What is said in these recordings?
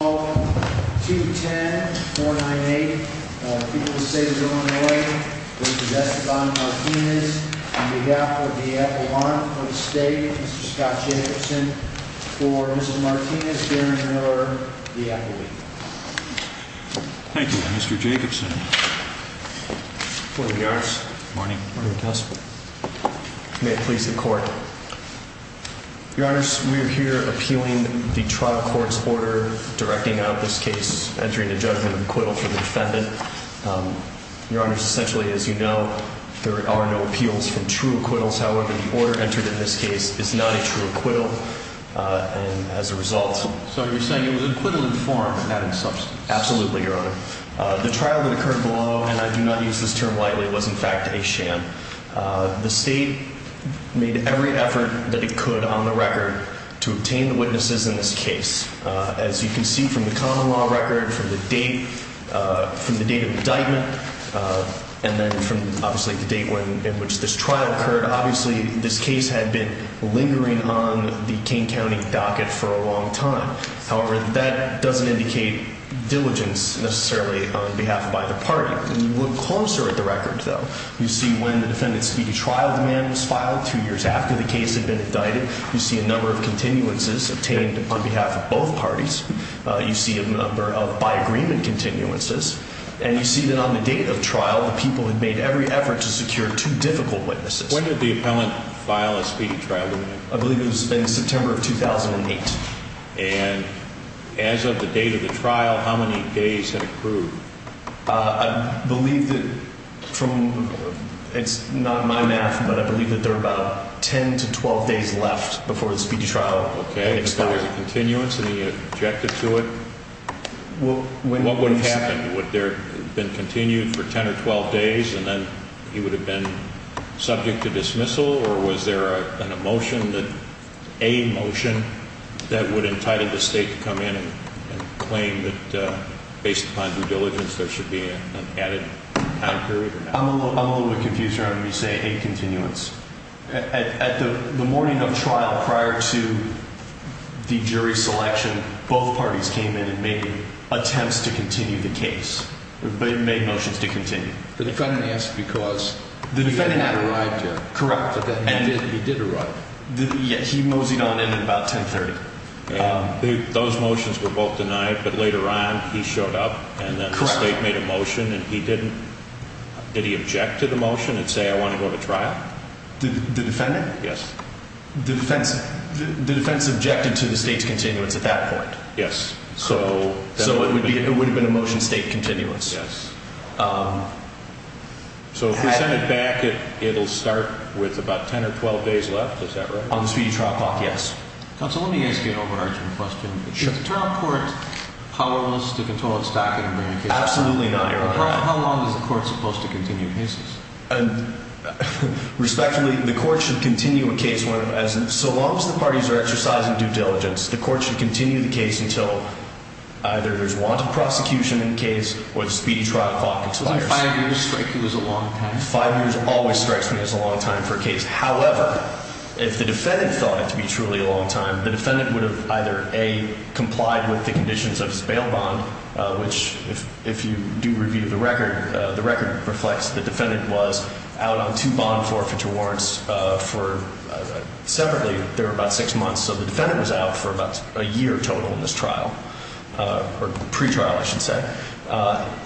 210-498, people say they're going away, v. Esteban Martinez, on behalf of the Appalachian State, v. Scott Jacobson, for v. Martinez, bearing your order, the Appalachian State. Thank you, Mr. Jacobson. Court of the Hours. Morning. Morning, Counselor. May it please the Court. Your Honors, we are here appealing the trial court's order directing out this case, entering a judgment of acquittal for the defendant. Your Honors, essentially, as you know, there are no appeals for true acquittals. However, the order entered in this case is not a true acquittal, and as a result— So you're saying it was acquittal in form and not in substance. Absolutely, Your Honor. The trial that occurred below, and I do not use this term lightly, was in fact a sham. The State made every effort that it could on the record to obtain the witnesses in this case. As you can see from the common law record, from the date of indictment, and then from, obviously, the date in which this trial occurred, obviously, this case had been lingering on the King County docket for a long time. However, that doesn't indicate diligence, necessarily, on behalf of either party. When you look closer at the record, though, you see when the defendant's speedy trial demand was filed, two years after the case had been indicted. You see a number of continuances obtained on behalf of both parties. You see a number of by-agreement continuances. And you see that on the date of trial, the people had made every effort to secure two difficult witnesses. When did the appellant file a speedy trial demand? I believe it was in September of 2008. And as of the date of the trial, how many days had it proved? I believe that from, it's not my math, but I believe that there were about 10 to 12 days left before the speedy trial expired. Okay, so there was a continuance and he objected to it? What would have happened? Would there have been continued for 10 or 12 days and then he would have been subject to dismissal? Or was there an a motion that would have entitled the state to come in and claim that based on due diligence there should be an added time period? I'm a little bit confused around when you say a continuance. At the morning of trial, prior to the jury selection, both parties came in and made attempts to continue the case. They made motions to continue. The defendant asked because the defendant had arrived yet. Correct. He did arrive. He moseyed on in about 10 30. Those motions were both denied, but later on he showed up and then the state made a motion and he didn't. Did he object to the motion and say, I want to go to trial? The defendant? Yes. The defense objected to the state's continuance at that point? Yes. So it would have been a motion state continuance? Yes. So if we send it back, it'll start with about 10 or 12 days left, is that right? On the speedy trial clock, yes. Counsel, let me ask you an overarching question. Sure. Is the trial court powerless to control its backing and bring a case? Absolutely not, Your Honor. How long is the court supposed to continue cases? Respectfully, the court should continue a case, so long as the parties are exercising due diligence, the court should continue the case until either there's wanted prosecution in the case or the speedy trial clock expires. Doesn't five years strike you as a long time? Five years always strikes me as a long time for a case. However, if the defendant thought it to be truly a long time, the defendant would have either, A, complied with the conditions of his bail bond, which if you do review the record, the record reflects the defendant was out on two bond forfeiture warrants for separately, there were about six months, so the defendant was out for about a year total in this trial, or pretrial, I should say.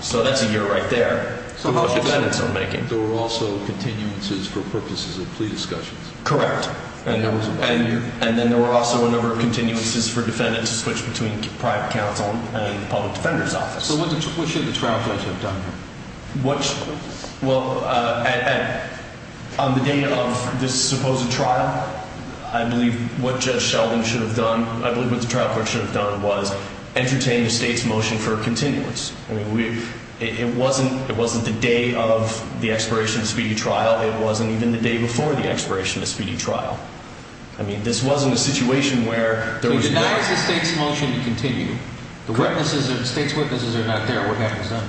So that's a year right there. So how much of that are we making? There were also continuances for purposes of plea discussions. Correct. And then there were also a number of continuances for defendants to switch between private counsel and public defender's office. So what should the trial court have done here? Well, on the day of this supposed trial, I believe what Judge Sheldon should have done, I believe what the trial court should have done was entertain the state's motion for continuance. I mean, it wasn't the day of the expiration of the speedy trial. It wasn't even the day before the expiration of the speedy trial. I mean, this wasn't a situation where there was a... So you deny the state's motion to continue. The witnesses, the state's witnesses are not there. What happens then?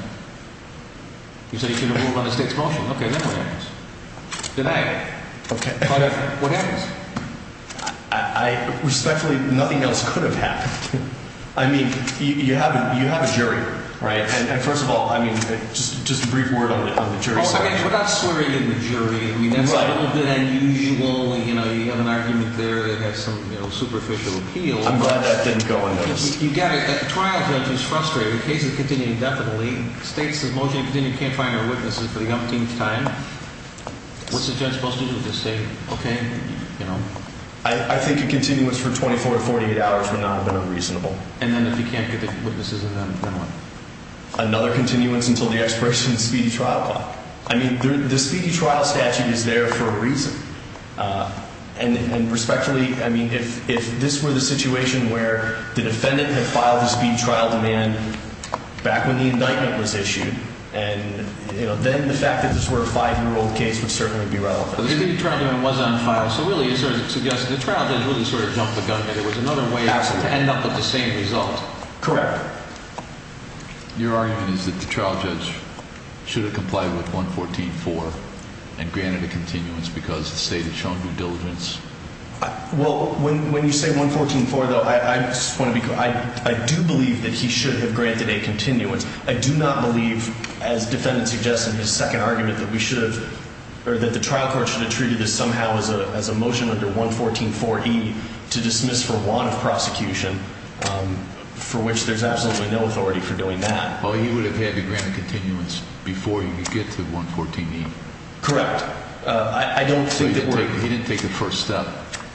You say you should have moved on the state's motion. Okay, then what happens? Deny it. Okay. What happens? I respectfully, nothing else could have happened. I mean, you have a jury, right? And first of all, I mean, just a brief word on the jury's question. We're not slurring in the jury. I mean, that's a little bit unusual. You know, you have an argument there that has some superficial appeal. I'm glad that didn't go unnoticed. You got it. The trial judge is frustrated. The case is continuing indefinitely. The state's motion to continue, can't find our witnesses for the umpteenth time. What's the judge supposed to do? Just say, okay, you know. I think a continuance for 24 to 48 hours would not have been unreasonable. And then if he can't get the witnesses, then what? Another continuance until the expiration of the speedy trial law. I mean, the speedy trial statute is there for a reason. And respectfully, I mean, if this were the situation where the defendant had filed the speedy trial demand back when the indictment was issued, then the fact that this were a five-year-old case would certainly be relevant. So the speedy trial demand was unfiled, so really you're sort of suggesting the trial judge really sort of jumped the gun and it was another way to end up with the same result. Correct. Your argument is that the trial judge should have complied with 114.4 and granted a continuance because the state had shown due diligence. Well, when you say 114.4, though, I just want to be clear. I do believe that he should have granted a continuance. I do not believe, as the defendant suggests in his second argument, that we should have, or that the trial court should have treated this somehow as a motion under 114.4E to dismiss for want of prosecution, for which there's absolutely no authority for doing that. Well, he would have had to grant a continuance before he could get to 114.8. Correct. I don't think that we're – So he didn't take the first step.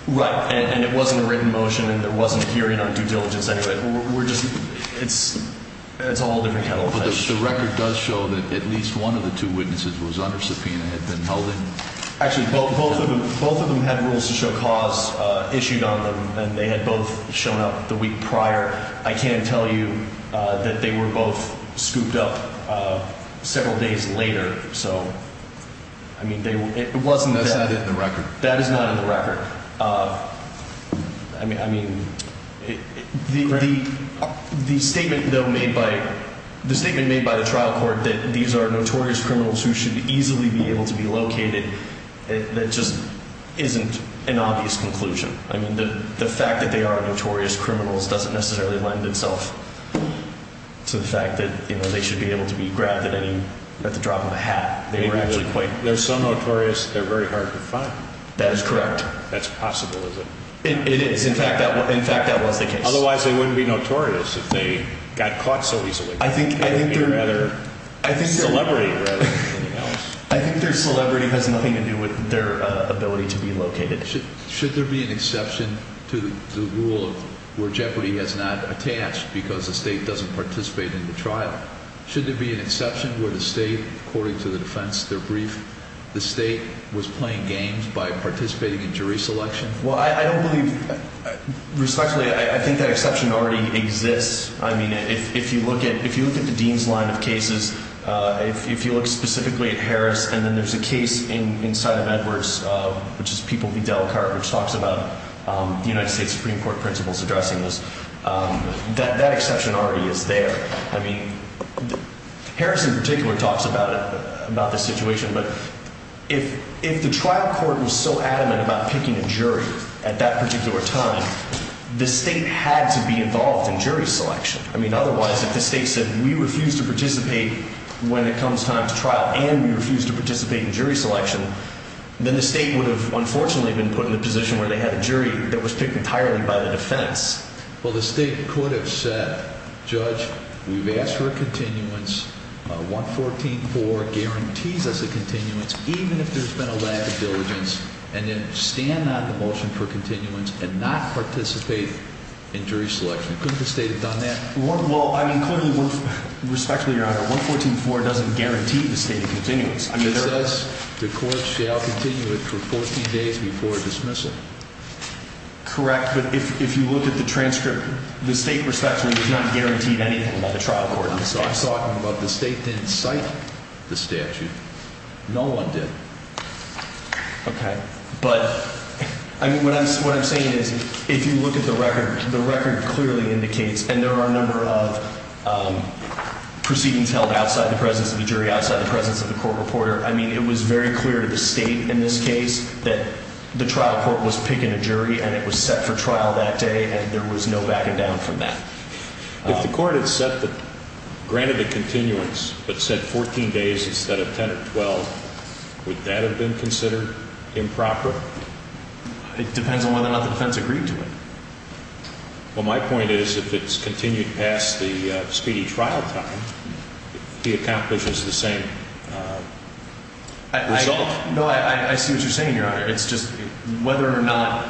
Right. And it wasn't a written motion and there wasn't a hearing on due diligence. We're just – it's a whole different kettle of fish. But the record does show that at least one of the two witnesses was under subpoena and had been held in. Actually, both of them had rules to show cause issued on them and they had both shown up the week prior. I can tell you that they were both scooped up several days later. So, I mean, it wasn't that – That's not in the record. That is not in the record. I mean, the statement, though, made by – the statement made by the trial court that these are notorious criminals who should easily be able to be located, that just isn't an obvious conclusion. I mean, the fact that they are notorious criminals doesn't necessarily lend itself to the fact that, you know, they should be able to be grabbed at any – at the drop of a hat. They were actually quite – They're so notorious, they're very hard to find. That is correct. That's possible, is it? It is. In fact, that was the case. Otherwise, they wouldn't be notorious if they got caught so easily. I think celebrity has nothing to do with their ability to be located. Should there be an exception to the rule where Jeopardy! has not attached because the state doesn't participate in the trial? Should there be an exception where the state, according to the defense, their brief, the state was playing games by participating in jury selection? Well, I don't believe – respectfully, I think that exception already exists. I mean, if you look at the Dean's line of cases, if you look specifically at Harris, and then there's a case inside of Edwards, which is People v. Delcart, which talks about the United States Supreme Court principals addressing this, that exception already is there. I mean, Harris in particular talks about this situation, but if the trial court was so adamant about picking a jury at that particular time, the state had to be involved in jury selection. I mean, otherwise, if the state said, we refuse to participate when it comes time to trial, and we refuse to participate in jury selection, then the state would have, unfortunately, been put in the position where they had a jury that was picked entirely by the defense. Well, the state could have said, judge, we've asked for a continuance. 114.4 guarantees us a continuance, even if there's been a lack of diligence. And then stand on the motion for continuance and not participate in jury selection. Couldn't the state have done that? Well, I mean, clearly, respectfully, Your Honor, 114.4 doesn't guarantee the state a continuance. It says the court shall continue it for 14 days before dismissal? Correct. But if you look at the transcript, the state, respectfully, does not guarantee anything about the trial court. I'm talking about the state didn't cite the statute. No one did. Okay. But, I mean, what I'm saying is, if you look at the record, the record clearly indicates, and there are a number of proceedings held outside the presence of the jury, outside the presence of the court reporter. I mean, it was very clear to the state in this case that the trial court was picking a jury, and it was set for trial that day, and there was no backing down from that. If the court had set the, granted the continuance, but said 14 days instead of 10 or 12, would that have been considered improper? It depends on whether or not the defense agreed to it. Well, my point is, if it's continued past the speedy trial time, it accomplishes the same result. No, I see what you're saying, Your Honor. It's just whether or not,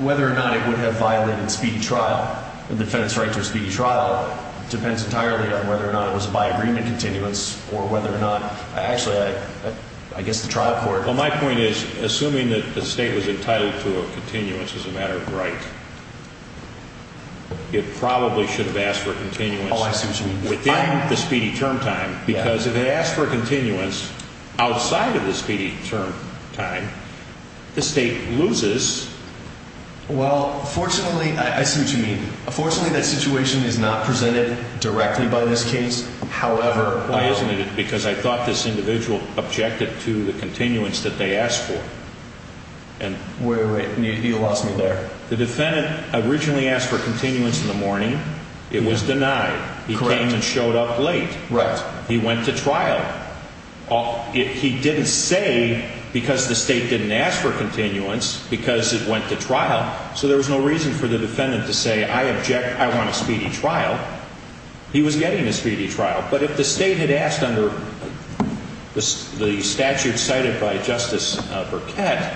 whether or not it would have violated speedy trial, the defense's right to a speedy trial, depends entirely on whether or not it was by agreement continuance or whether or not, actually, I guess the trial court... Well, my point is, assuming that the state was entitled to a continuance as a matter of right, it probably should have asked for a continuance... Oh, I see what you mean. ...within the speedy term time, because if it asked for a continuance outside of the speedy term time, the state loses... Well, fortunately, I see what you mean. Fortunately, that situation is not presented directly by this case. However... Why isn't it? Because I thought this individual objected to the continuance that they asked for. Wait, wait, wait. You lost me there. The defendant originally asked for continuance in the morning. It was denied. Correct. He came and showed up late. Right. He went to trial. He didn't say, because the state didn't ask for continuance, because it went to trial. So there was no reason for the defendant to say, I object, I want a speedy trial. He was getting a speedy trial. But if the state had asked under the statute cited by Justice Burkett,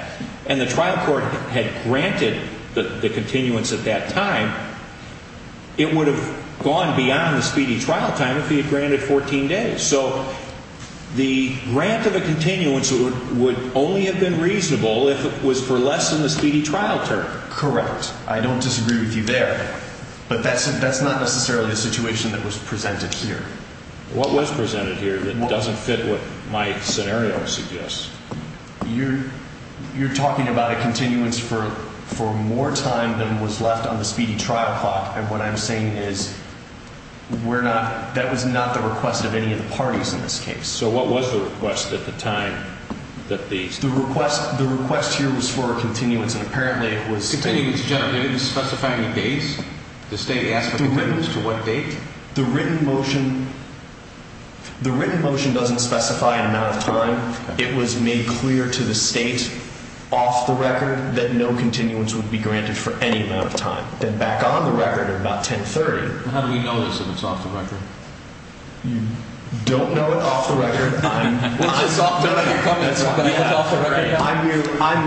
and the trial court had granted the continuance at that time, it would have gone beyond the speedy trial time if he had granted 14 days. So the grant of a continuance would only have been reasonable if it was for less than the speedy trial term. Correct. I don't disagree with you there. But that's not necessarily the situation that was presented here. What was presented here that doesn't fit what my scenario suggests? You're talking about a continuance for more time than was left on the speedy trial clock. And what I'm saying is, that was not the request of any of the parties in this case. So what was the request at the time? The request here was for a continuance, and apparently it was... Did it specify any dates? The state asked for continuance to what date? The written motion... The written motion doesn't specify an amount of time. It was made clear to the state, off the record, that no continuance would be granted for any amount of time. Then back on the record, at about 1030... How do we know this if it's off the record? You don't know it off the record. I'm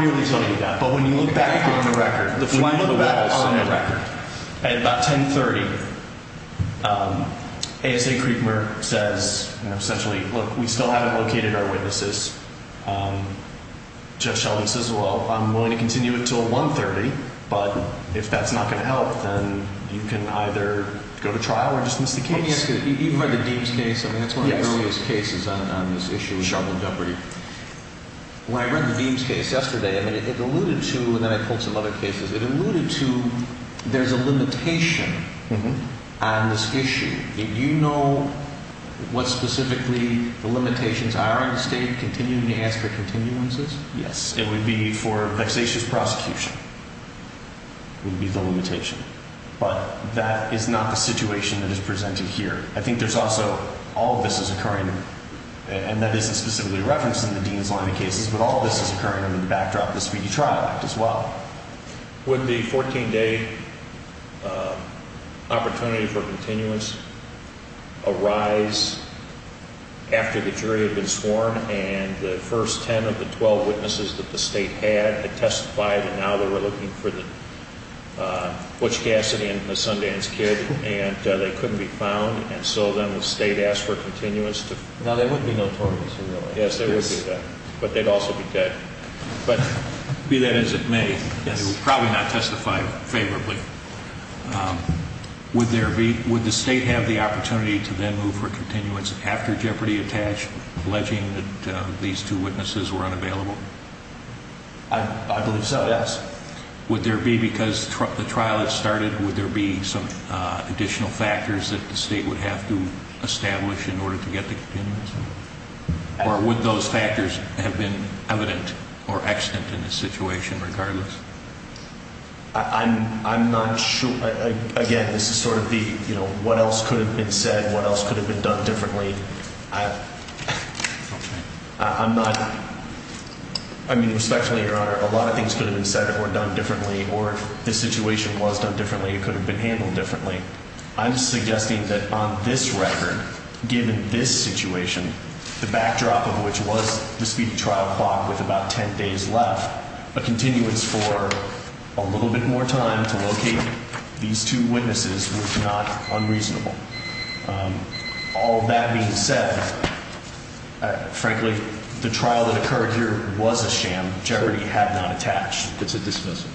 merely telling you that. But when you look back on the record... When you look back on the record, at about 1030, ASA Kriegmer says, essentially, look, we still haven't located our witnesses. Jeff Sheldon says, well, I'm willing to continue until 130, but if that's not going to help, then you can either go to trial or just miss the case. Let me ask you, you've read the Deems case. I mean, that's one of the earliest cases on this issue of charged in jeopardy. When I read the Deems case yesterday, I mean, it alluded to... And then I pulled some other cases. It alluded to there's a limitation on this issue. Do you know what specifically the limitations are on the state continuing to ask for continuances? Yes. It would be for vexatious prosecution. It would be the limitation. But that is not the situation that is presented here. I think there's also... I think there's a reference in the Deems line of cases, but all of this is occurring under the backdrop of the Speedy Trial Act as well. Would the 14-day opportunity for continuance arise after the jury had been sworn and the first 10 of the 12 witnesses that the state had had testified, and now they were looking for Butch Cassidy and the Sundance Kid, and they couldn't be found, and so then the state asked for continuance to... Now, they would be notorious, really. Yes, they would be, but they'd also be dead. But be that as it may, they would probably not testify favorably. Would the state have the opportunity to then move for continuance after Jeopardy Attached, alleging that these two witnesses were unavailable? I believe so, yes. Would there be, because the trial had started, would there be some additional factors that the state would have to establish in order to get the continuance? Or would those factors have been evident or extant in the situation regardless? I'm not sure. Again, this is sort of the what else could have been said, what else could have been done differently. I'm not... I mean, respectfully, Your Honor, a lot of things could have been said or done differently, or if the situation was done differently, it could have been handled differently. I'm suggesting that on this record, given this situation, the backdrop of which was the speedy trial clock with about 10 days left, a continuance for a little bit more time to locate these two witnesses was not unreasonable. All that being said, frankly, the trial that occurred here was a sham. Jeopardy had not attached. It's a dismissal?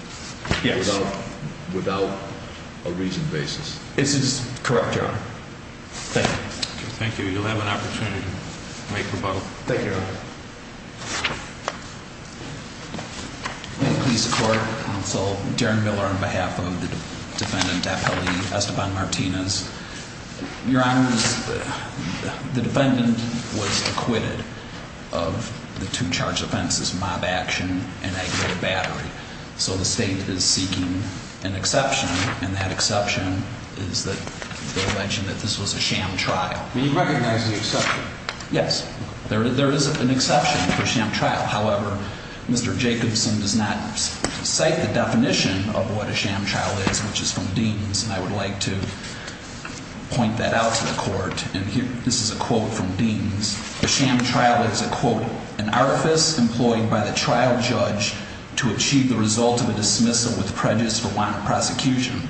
Yes. Without a reason basis? This is correct, Your Honor. Thank you. Thank you. You'll have an opportunity to make rebuttal. Thank you, Your Honor. May it please the court, counsel, Darren Miller on behalf of the defendant, Apelli Esteban Martinez. Your Honor, the defendant was acquitted of the two charged offenses, mob action and aggravated battery. So the state is seeking an exception, and that exception is that this was a sham trial. Do you recognize the exception? Yes. There is an exception for sham trial. However, Mr. Jacobson does not cite the definition of what a sham trial is, which is from Deans, and I would like to point that out to the court. This is a quote from Deans. A sham trial is a quote, an artifice employed by the trial judge to achieve the result of a dismissal with prejudice for wanted prosecution.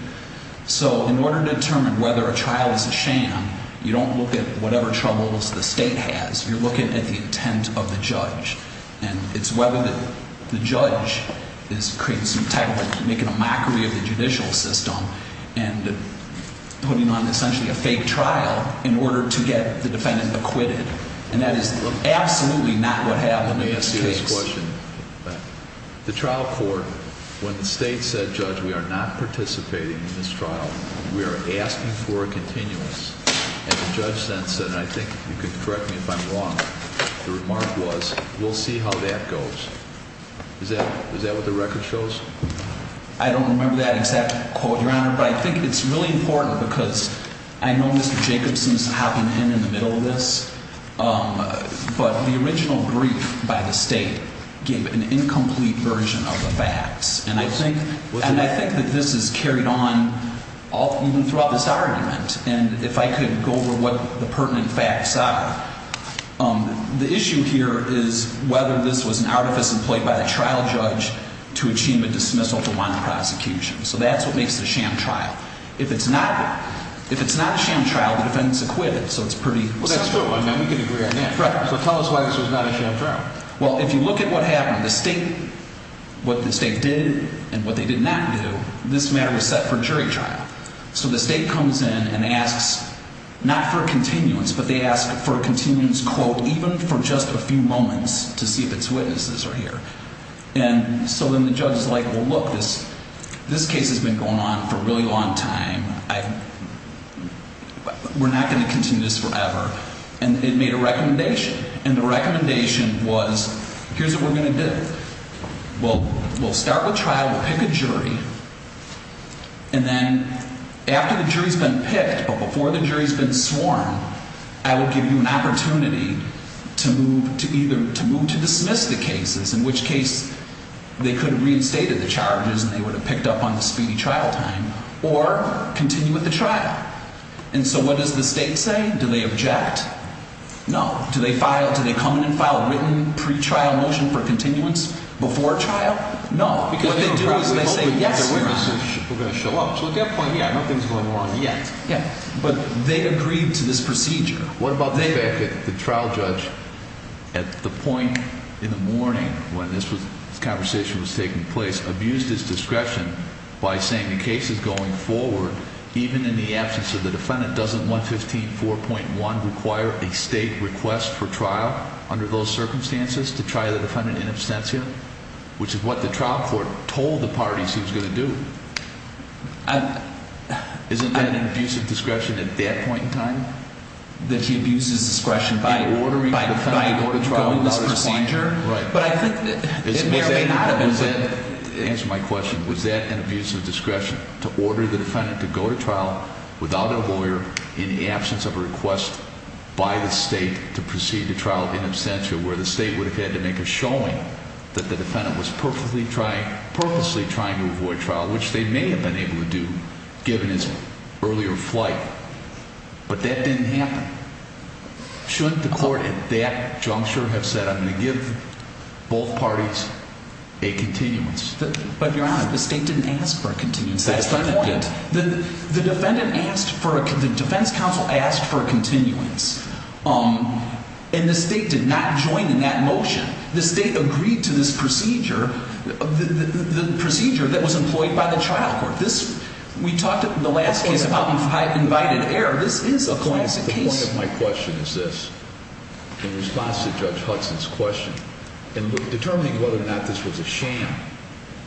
So in order to determine whether a trial is a sham, you don't look at whatever troubles the state has. You're looking at the intent of the judge. And it's whether the judge is creating some type of making a mockery of the judicial system and putting on essentially a fake trial in order to get the defendant acquitted. And that is absolutely not what happened in this case. Let me ask you this question. The trial court, when the state said, Judge, we are not participating in this trial, we are asking for a continuous, and the judge then said, and I think you can correct me if I'm wrong, the remark was, we'll see how that goes. Is that what the record shows? I don't remember that exact quote, Your Honor, but I think it's really important because I know Mr. Jacobson's hopping in in the middle of this. But the original brief by the state gave an incomplete version of the facts. And I think that this is carried on even throughout this argument. And if I could go over what the pertinent facts are. The issue here is whether this was an artifice employed by the trial judge to achieve a dismissal for wanted prosecution. So that's what makes it a sham trial. If it's not a sham trial, the defendant's acquitted. Well, that's true. We can agree on that. So tell us why this was not a sham trial. Well, if you look at what happened, what the state did and what they did not do, this matter was set for jury trial. So the state comes in and asks, not for a continuance, but they ask for a continuance quote even for just a few moments to see if its witnesses are here. And so then the judge is like, well, look, this case has been going on for a really long time. We're not going to continue this forever. And it made a recommendation. And the recommendation was, here's what we're going to do. We'll start with trial, we'll pick a jury. And then after the jury's been picked, or before the jury's been sworn, I will give you an opportunity to move to either, to move to dismiss the cases, in which case they could have reinstated the charges and they would have picked up on the speedy trial time. Or continue with the trial. And so what does the state say? Do they object? No. Do they file, do they come in and file a written pre-trial motion for continuance before trial? No. What they do is they say, yes, we're going to show up. So at that point, yeah, nothing's going wrong yet. But they agreed to this procedure. What about the fact that the trial judge, at the point in the morning when this conversation was taking place, abused his discretion by saying the case is going forward, even in the absence of the defendant, doesn't 115.4.1 require a state request for trial under those circumstances to try the defendant in absentia? Which is what the trial court told the parties he was going to do. Isn't that an abuse of discretion at that point in time? That he abuses discretion by ordering the defendant to go through this procedure? Right. Answer my question. Was that an abuse of discretion to order the defendant to go to trial without a lawyer in the absence of a request by the state to proceed to trial in absentia where the state would have had to make a showing that the defendant was purposely trying to avoid trial, which they may have been able to do given his earlier flight. But that didn't happen. Shouldn't the court at that juncture have said, I'm going to give both parties a continuance? But Your Honor, the state didn't ask for a continuance. That's the point. The defendant asked for, the defense counsel asked for a continuance. And the state did not join in that motion. The state agreed to this procedure, the procedure that was employed by the trial court. We talked in the last case about invited error. This is a classic case. My point of my question is this. In response to Judge Hudson's question, in determining whether or not this was a sham,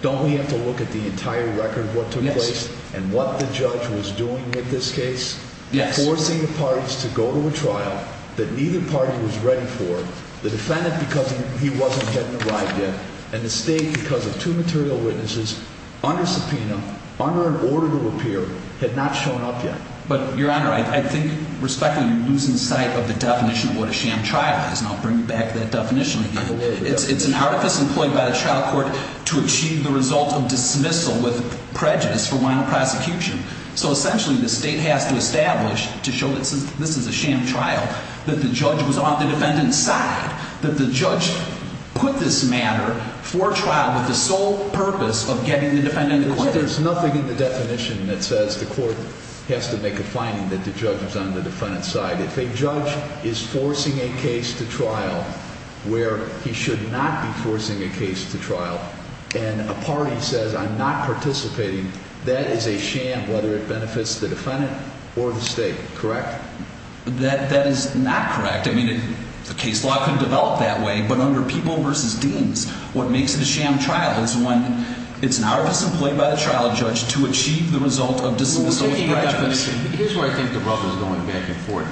don't we have to look at the entire record of what took place? Yes. And what the judge was doing with this case? Yes. Forcing the parties to go to a trial that neither party was ready for. The defendant, because he wasn't getting a ride yet. And the state, because of two material witnesses, under subpoena, under an order to appear, had not shown up yet. But Your Honor, I think, respectfully, you're losing sight of the definition of what a sham trial is. Now bring back that definition again. It's an artifice employed by the trial court to achieve the result of dismissal with prejudice for one prosecution. So essentially, the state has to establish, to show that this is a sham trial, that the judge was on the defendant's side. That the judge put this matter for trial with the sole purpose of getting the defendant acquitted. But there's nothing in the definition that says the court has to make a finding that the judge was on the defendant's side. If a judge is forcing a case to trial, where he should not be forcing a case to trial, and a party says, I'm not participating, that is a sham, whether it benefits the defendant or the state. Correct? That is not correct. I mean, the case law can develop that way, but under people versus deans, what makes it a sham trial is when it's an artifice employed by the trial judge to achieve the result of dismissal with prejudice. Here's where I think the rubble is going back and forth.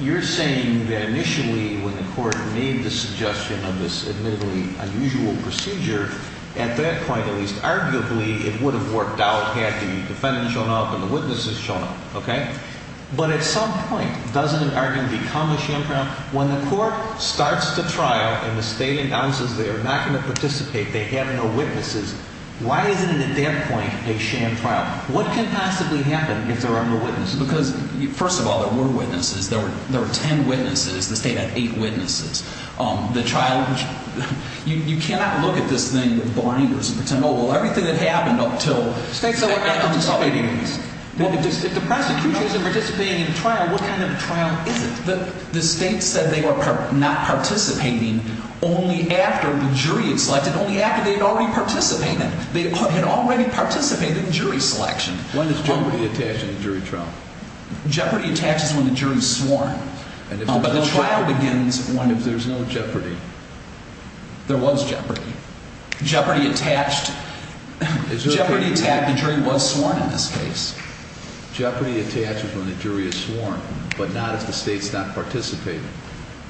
You're saying that initially, when the court made the suggestion of this admittedly unusual procedure, at that point, at least, arguably, it would have worked out had the defendant shown up and the witnesses shown up, okay? But at some point, doesn't it arguably become a sham trial? When the court starts the trial and the state announces they are not going to participate, they have no witnesses, why isn't it, at that point, a sham trial? What can possibly happen if there are no witnesses? Because, first of all, there were witnesses. There were ten witnesses. The state had eight witnesses. The trial, you cannot look at this thing with blinders and pretend, oh, well, everything that happened up until the state said we're not participating in this. If the prosecution isn't participating in the trial, what kind of a trial is it? The state said they were not participating only after the jury had selected, only after they had already participated. They had already participated in jury selection. When is jeopardy attached in a jury trial? Jeopardy attaches when the jury is sworn. But the trial begins when? If there's no jeopardy. There was jeopardy. Jeopardy attached, the jury was sworn in this case. Jeopardy attaches when the jury is sworn, but not if the state's not participating.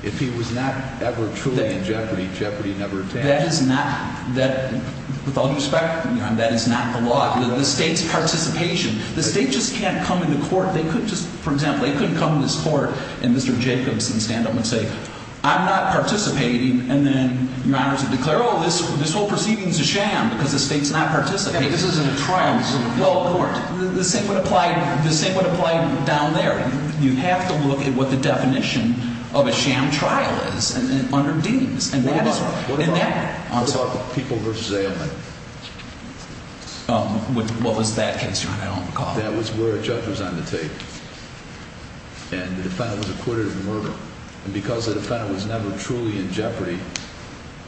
If he was not ever truly in jeopardy, jeopardy never attaches. That is not, that, with all due respect, that is not the law. The state's participation, the state just can't come into court. They couldn't just, for example, they couldn't come into this court and Mr. Jacobson would stand up and say, I'm not participating. And then your honor would declare, oh, this whole proceeding is a sham because the state's not participating. I mean, this isn't a trial, this isn't a court. The same would apply, the same would apply down there. You have to look at what the definition of a sham trial is under Deans. And that is what, and that, I'm sorry. What about the people versus ailment? Um, what was that case, your honor, I don't recall. That was where a judge was on the tape. And the defendant was acquitted of the murder. And because the defendant was never truly in jeopardy,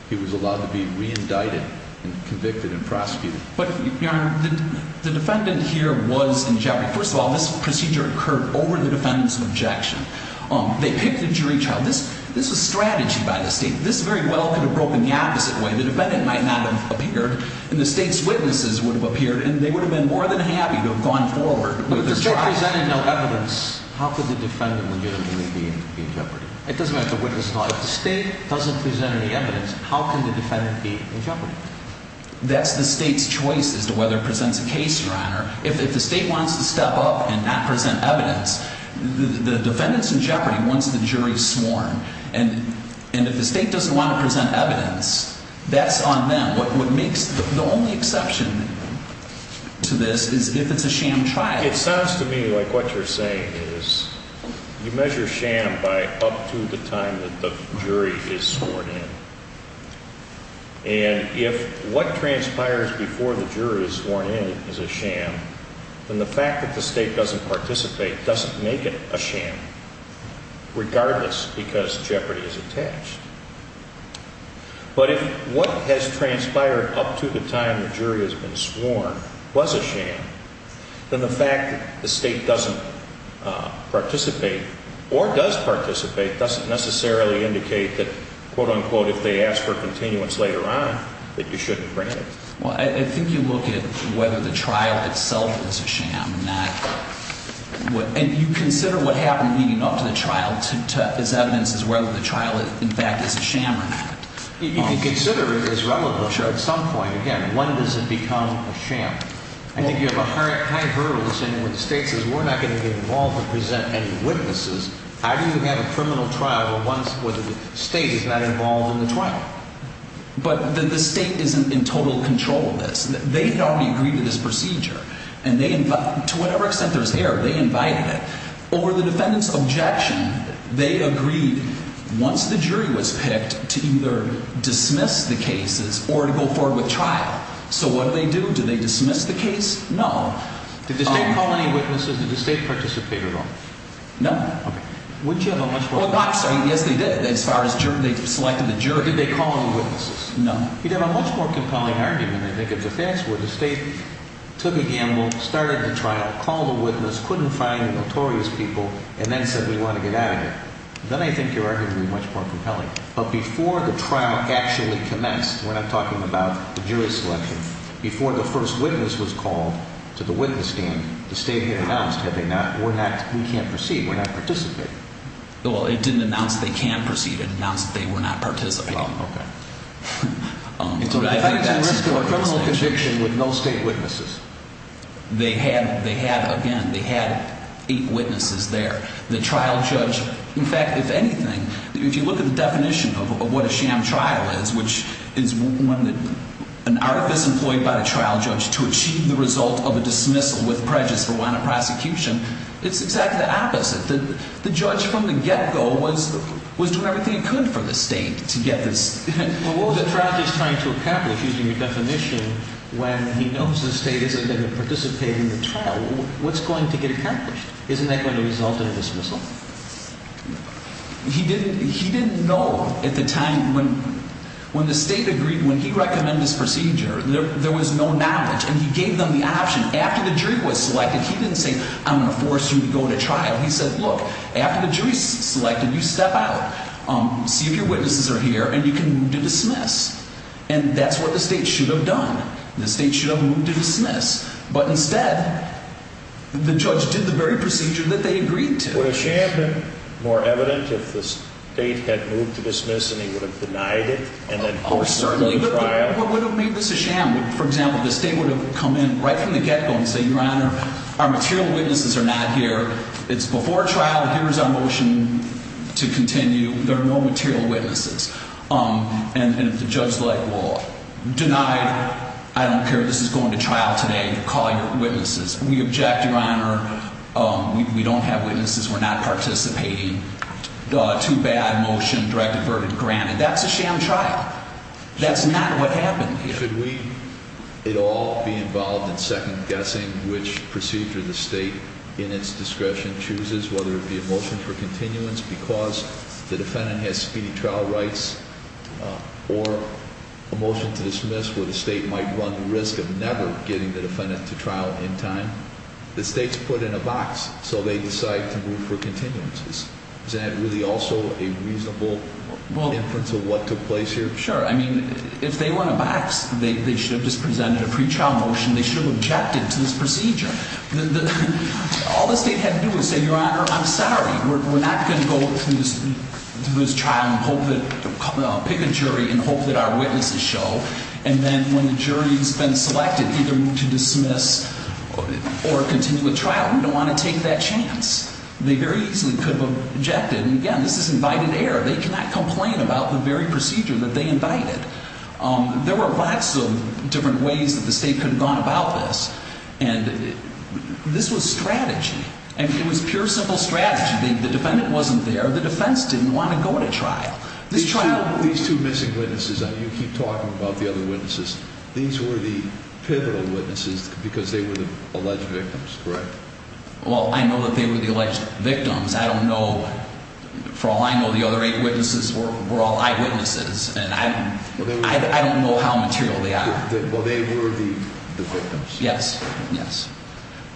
he was allowed to be re-indicted and convicted and prosecuted. But, your honor, the defendant here was in jeopardy. First of all, this procedure occurred over the defendant's objection. They picked the jury trial. This was strategy by the state. This very well could have broken the opposite way. The defendant might not have appeared and the state's witnesses would have appeared and they would have been more than happy to have gone forward. But if the state presented no evidence, how could the defendant legitimately be in jeopardy? It doesn't matter if the witness is not. If the state doesn't present any evidence, how can the defendant be in jeopardy? That's the state's choice as to whether it presents a case, your honor. If the state wants to step up and not present evidence, the defendant's in jeopardy once the jury's sworn. And if the state doesn't want to present evidence, that's on them. The only exception to this is if it's a sham trial. It sounds to me like what you're saying is you measure sham by up to the time that the jury is sworn in. And if what transpires before the jury is sworn in is a sham, then the fact that the state doesn't participate doesn't make it a sham, regardless, because jeopardy is attached. But if what has transpired up to the time the jury has been sworn was a sham, then the fact that the state doesn't participate or does participate doesn't necessarily indicate that, quote-unquote, if they ask for continuance later on, that you shouldn't bring it. Well, I think you look at whether the trial itself is a sham or not. And you consider what happened leading up to the trial as evidence as whether the trial, in fact, is a sham or not. You can consider it as relevant at some point. Again, when does it become a sham? I think you have a high hurdle when the state says we're not going to be involved or present any witnesses. How do you have a criminal trial where the state is not involved in the trial? But the state isn't in total control of this. They had already agreed to this procedure. And to whatever extent there's error, they invited it. Over the defendant's objection, they agreed once the jury was picked to either dismiss the cases or to go forward with trial. So what did they do? Did they dismiss the case? No. Would you have a much more compelling argument? Yes, they did, as far as they selected the jury. Did they call in the witnesses? No. You'd have a much more compelling argument, I think, if the facts were the state took a gamble, started the trial, called a witness, couldn't find the notorious people, and then said we want to get out of here. Then I think your argument would be much more compelling. But before the trial actually commenced, we're not talking about the jury selection, before the first witness was called to the witness stand, the state had announced had they not, they can't proceed, were not participating. Well, it didn't announce they can proceed, it announced they were not participating. Oh, okay. So the defendant's in risk of a criminal conviction with no state witnesses. They had, again, they had eight witnesses there. The trial judge, in fact, if anything, if you look at the definition of what a sham trial is, which is an artifice employed by the trial judge to achieve the result of a dismissal with prejudice for want of prosecution, it's exactly the opposite. The judge from the get-go was doing everything he could for the state to get this. Well, what was the trial judge trying to accomplish, using your definition, when he knows the state isn't going to participate in the trial? What's going to get accomplished? Isn't that going to result in a dismissal? He didn't know at the time, when the state agreed, when he recommended this procedure, there was no knowledge, and he gave them the option. After the jury was selected, he didn't say, I'm going to force you to go to trial. He said, look, after the jury's selected, you step out, see if your witnesses are here, and you can move to dismiss. And that's what the state should have done. The state should have moved to dismiss. But instead, the judge did the very procedure that they agreed to. Would a sham have been more evident if the state had moved to dismiss and he would have denied it? Oh, certainly. Would it have made this a sham? For example, the state would have come in right from the get-go and said, Your Honor, our material witnesses are not here. It's before trial. Here's our motion to continue. There are no material witnesses. And if the judge denied, I don't care, this is going to trial today, call your witnesses. We object, Your Honor. We don't have witnesses. We're not participating. Too bad, motion, direct averted, granted. That's a sham trial. What happened here? Should we at all be involved in second-guessing which procedure the state in its discretion chooses, whether it be a motion for continuance because the defendant has speedy trial rights or a motion to dismiss where the state might run the risk of never getting the defendant to trial in time? The state's put in a box, so they decide to move for continuances. Isn't that really also a reasonable inference of what took place here? Sure. I mean, if they won a box, they should have just presented a pretrial motion. They should have objected to this procedure. All the state had to do was say, Your Honor, I'm sorry. We're not going to go through this trial and pick a jury and hope that our witnesses show. And then when the jury's been selected either to dismiss or continue with trial, we don't want to take that chance. They very easily could have objected. And again, this is invited error. They cannot complain about the very procedure that they invited. There were lots of different ways that the state could have gone about this. And this was strategy. And it was pure, simple strategy. The defendant wasn't there. The defense didn't want to go to trial. These two missing witnesses, you keep talking about the other witnesses. These were the pivotal witnesses because they were the alleged victims, correct? Well, I know that they were the alleged victims. I don't know. For all I know, the other eight witnesses were all eyewitnesses. And I don't know how material they are. Well, they were the victims. Yes, yes.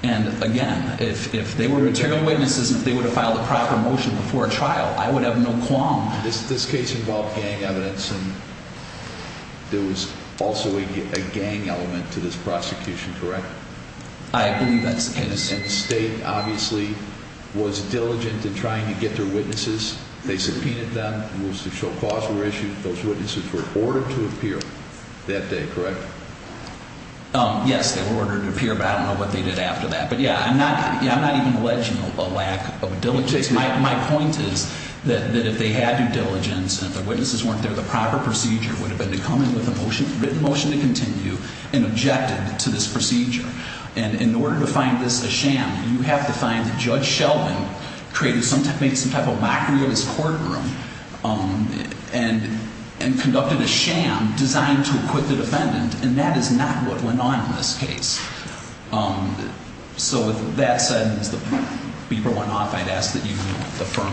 And again, if they were material witnesses and if they would have filed a proper motion before a trial, I would have no qualms. This case involved gang evidence and there was also a gang element to this prosecution, correct? I believe that's the case. And the state obviously was diligent in trying to get their witnesses. They subpoenaed them. Moves to show cause were issued. Those witnesses were ordered to appear that day, correct? Yes, they were ordered to appear. But I don't know what they did after that. But yeah, I'm not even alleging a lack of diligence. My point is that if they had due diligence and if the witnesses weren't there, the proper procedure would have been to come in with a written motion to continue and objected to this procedure. And in order to find this a sham, you have to find that Judge Sheldon created some type of mockery of his courtroom and conducted a sham designed to acquit the defendant. And that is not what went on in this case. So with that said, as the beeper went off, I'd ask that you affirm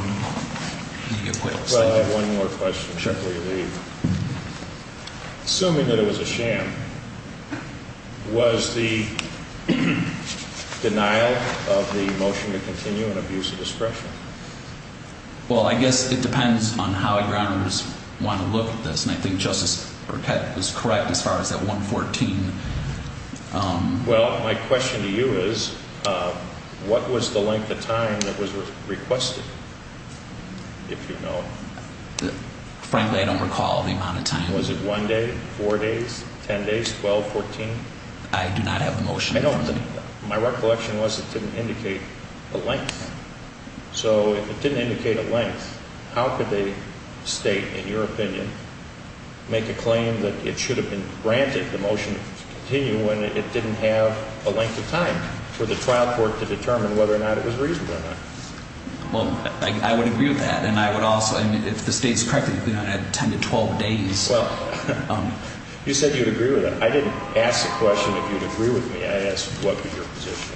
the acquittal. Well, I have one more question before you leave. Assuming that it was a sham, was the denial of the motion to continue an abuse of discretion? Well, I guess it depends on how a grounder would want to look at this. And I think Justice Burkett was correct as far as that 114. Well, my question to you is, what was the length of time that was requested, if you know it? Frankly, I don't recall the amount of time. Was it one day, four days, 10 days, 12, 14? I do not have the motion. My recollection was it didn't indicate a length. So if it didn't indicate a length, how could they state, in your opinion, make a claim that it should have been granted the motion to continue when it didn't have a length of time for the trial court to determine whether or not it was reasonable or not? Well, I would agree with that. And I would also, if the state is correct, it would have been 10 to 12 days. Well, you said you would agree with that. I didn't ask the question if you would agree with me. I asked what would your position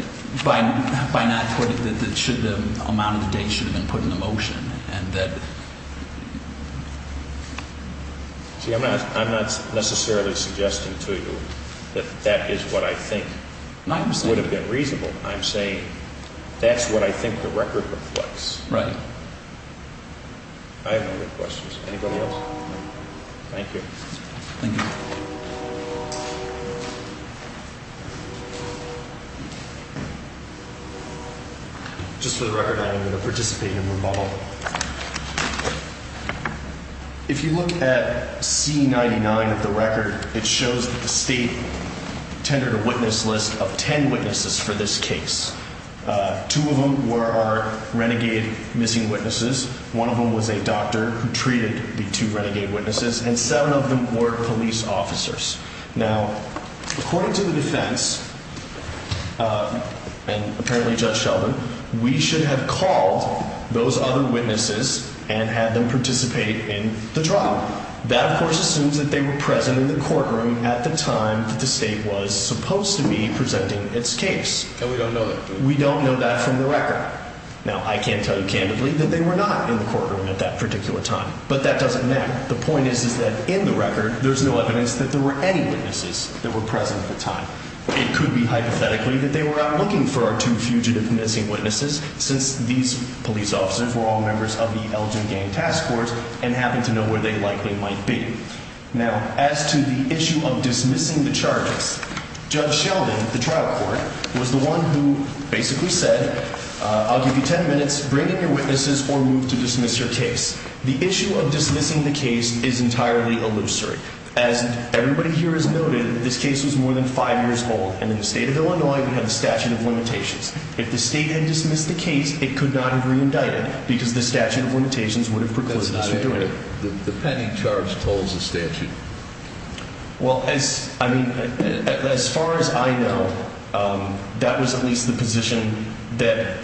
be. That by not putting, that the amount of the date should have been put in the motion. See, I'm not necessarily suggesting to you that that is what I think would have been reasonable. I'm saying that's what I think the record reflects. Right. I have no other questions. Anybody else? Thank you. Just for the record, I am going to participate in remodeling. If you look at C-99 of the record, it shows that the state tendered a witness list of 10 witnesses for this case. Two of them were our renegade missing witnesses. One of them was a doctor who treated the two renegade witnesses. And seven of them were police officers. Now, according to the defense, and apparently Judge Sheldon, we should have called those other witnesses and had them participate in the trial. That, of course, assumes that they were present in the courtroom at the time that the state was supposed to be presenting its case. And we don't know that. We don't know that from the record. Now, I can't tell you candidly that they were not in the courtroom at that particular time. But that doesn't matter. The point is that in the record, there's no evidence that there were any witnesses that were present at the time. It could be hypothetically that they were out looking for our two fugitive missing witnesses, since these police officers were all members of the Elgin Gang Task Force and happened to know where they likely might be. Now, as to the issue of dismissing the charges, Judge Sheldon, the trial court, was the one who basically said, I'll give you 10 minutes, bring in your witnesses, or move to dismiss your case. The issue of dismissing the case is entirely illusory. As everybody here has noted, this case was more than five years old, and in the state of Illinois, we have a statute of limitations. If the state had dismissed the case, it could not have re-indicted, because the statute of limitations would have precluded us from doing it. The pending charge tolls the statute. Well, as far as I know, that was at least the position that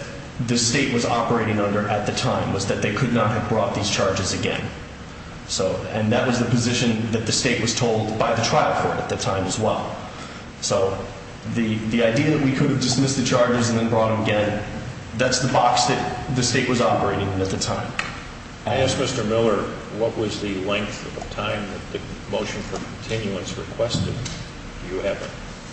the state was operating under at the time, was that they could not have brought these charges again. And that was the position that the state was told by the trial court at the time as well. So, the idea that we could have dismissed the charges and then brought them again, that's the box that the state was operating in at the time. I ask Mr. Miller, what was the length of time that the motion for continuance requested? Do you have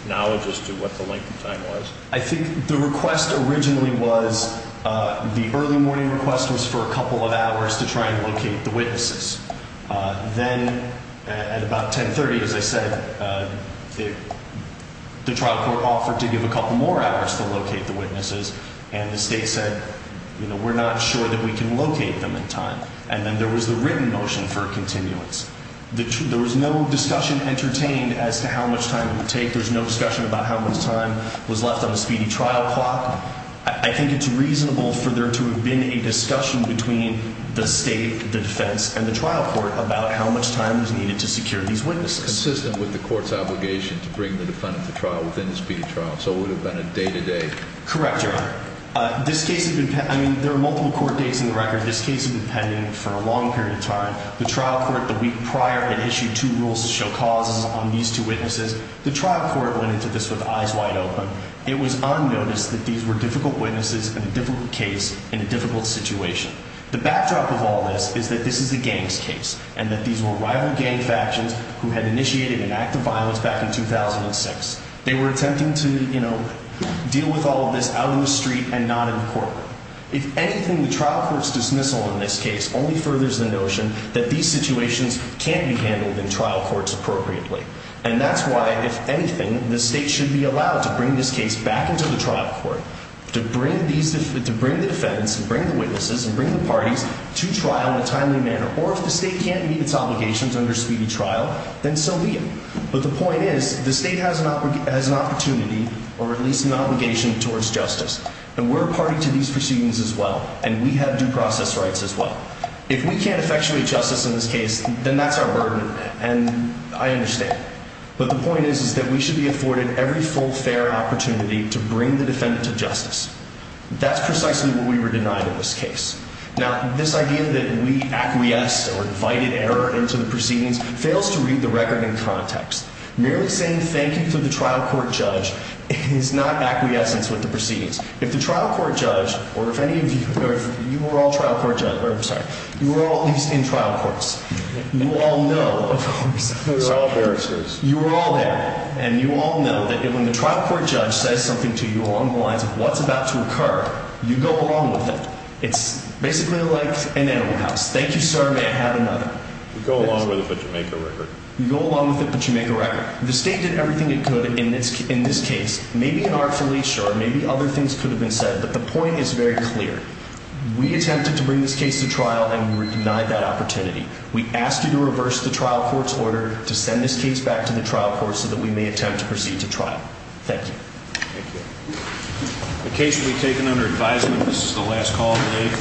knowledge as to what the length of time was? I think the request originally was, the early morning request was for a couple of hours to try and locate the witnesses. Then, at about 10.30, as I said, the trial court offered to give a couple more hours to locate the witnesses, and the state said, you know, we're not sure that we can locate them in time. And then there was the written motion for continuance. There was no discussion entertained as to how much time it would take. There was no discussion about how much time was left on the speedy trial clock. I think it's reasonable for there to have been a discussion between the state, the defense, and the trial court about how much time was needed to secure these witnesses. Consistent with the court's obligation to bring the defendant to trial within the speedy trial. So, it would have been a day-to-day. Correct, Your Honor. I mean, there are multiple court dates in the record. This case has been pending for a long period of time. The trial court, the week prior, had issued two rules to show causes on these two witnesses. The trial court went into this with eyes wide open. It was on notice that these were difficult witnesses in a difficult case, in a difficult situation. The backdrop of all this is that this is a gang's case, and that these were rival gang factions who had initiated an act of violence back in 2006. They were attempting to, you know, deal with all of this out in the street and not in the courtroom. If anything, the trial court's dismissal in this case only furthers the notion that these situations can't be handled in trial courts appropriately. And that's why, if anything, the state should be allowed to bring this case back into the trial court, to bring the defendants and bring the witnesses and bring the parties to trial in a timely manner. Or, if the state can't meet its obligations under speedy trial, then so be it. But the point is, the state has an opportunity, or at least an obligation, towards justice. And we're a party to these proceedings as well. And we have due process rights as well. If we can't effectuate justice in this case, then that's our burden. And I understand. But the point is, is that we should be afforded every full, fair opportunity to bring the defendant to justice. That's precisely what we were denied in this case. Now, this idea that we acquiesced or invited error into the proceedings fails to read the record in context. Merely saying thank you to the trial court judge is not acquiescence with the proceedings. If the trial court judge, or if any of you, or if you were all trial court judge, or I'm sorry, you were all at least in trial courts, you all know, of course. We were all barristers. You were all there. And you all know that when the trial court judge says something to you along the lines of what's about to occur, you go along with it. It's basically like an animal house. Thank you, sir. May I have another? You go along with it, but you make a record. You go along with it, but you make a record. The state did everything it could in this case. Maybe in our affiliation, or maybe other things could have been said. But the point is very clear. We attempted to bring this case to trial, and we were denied that opportunity. We asked you to reverse the trial court's order to send this case back to the trial court so that we may attempt to proceed to trial. Thank you. The case will be taken under advisement. This is the last call of the day.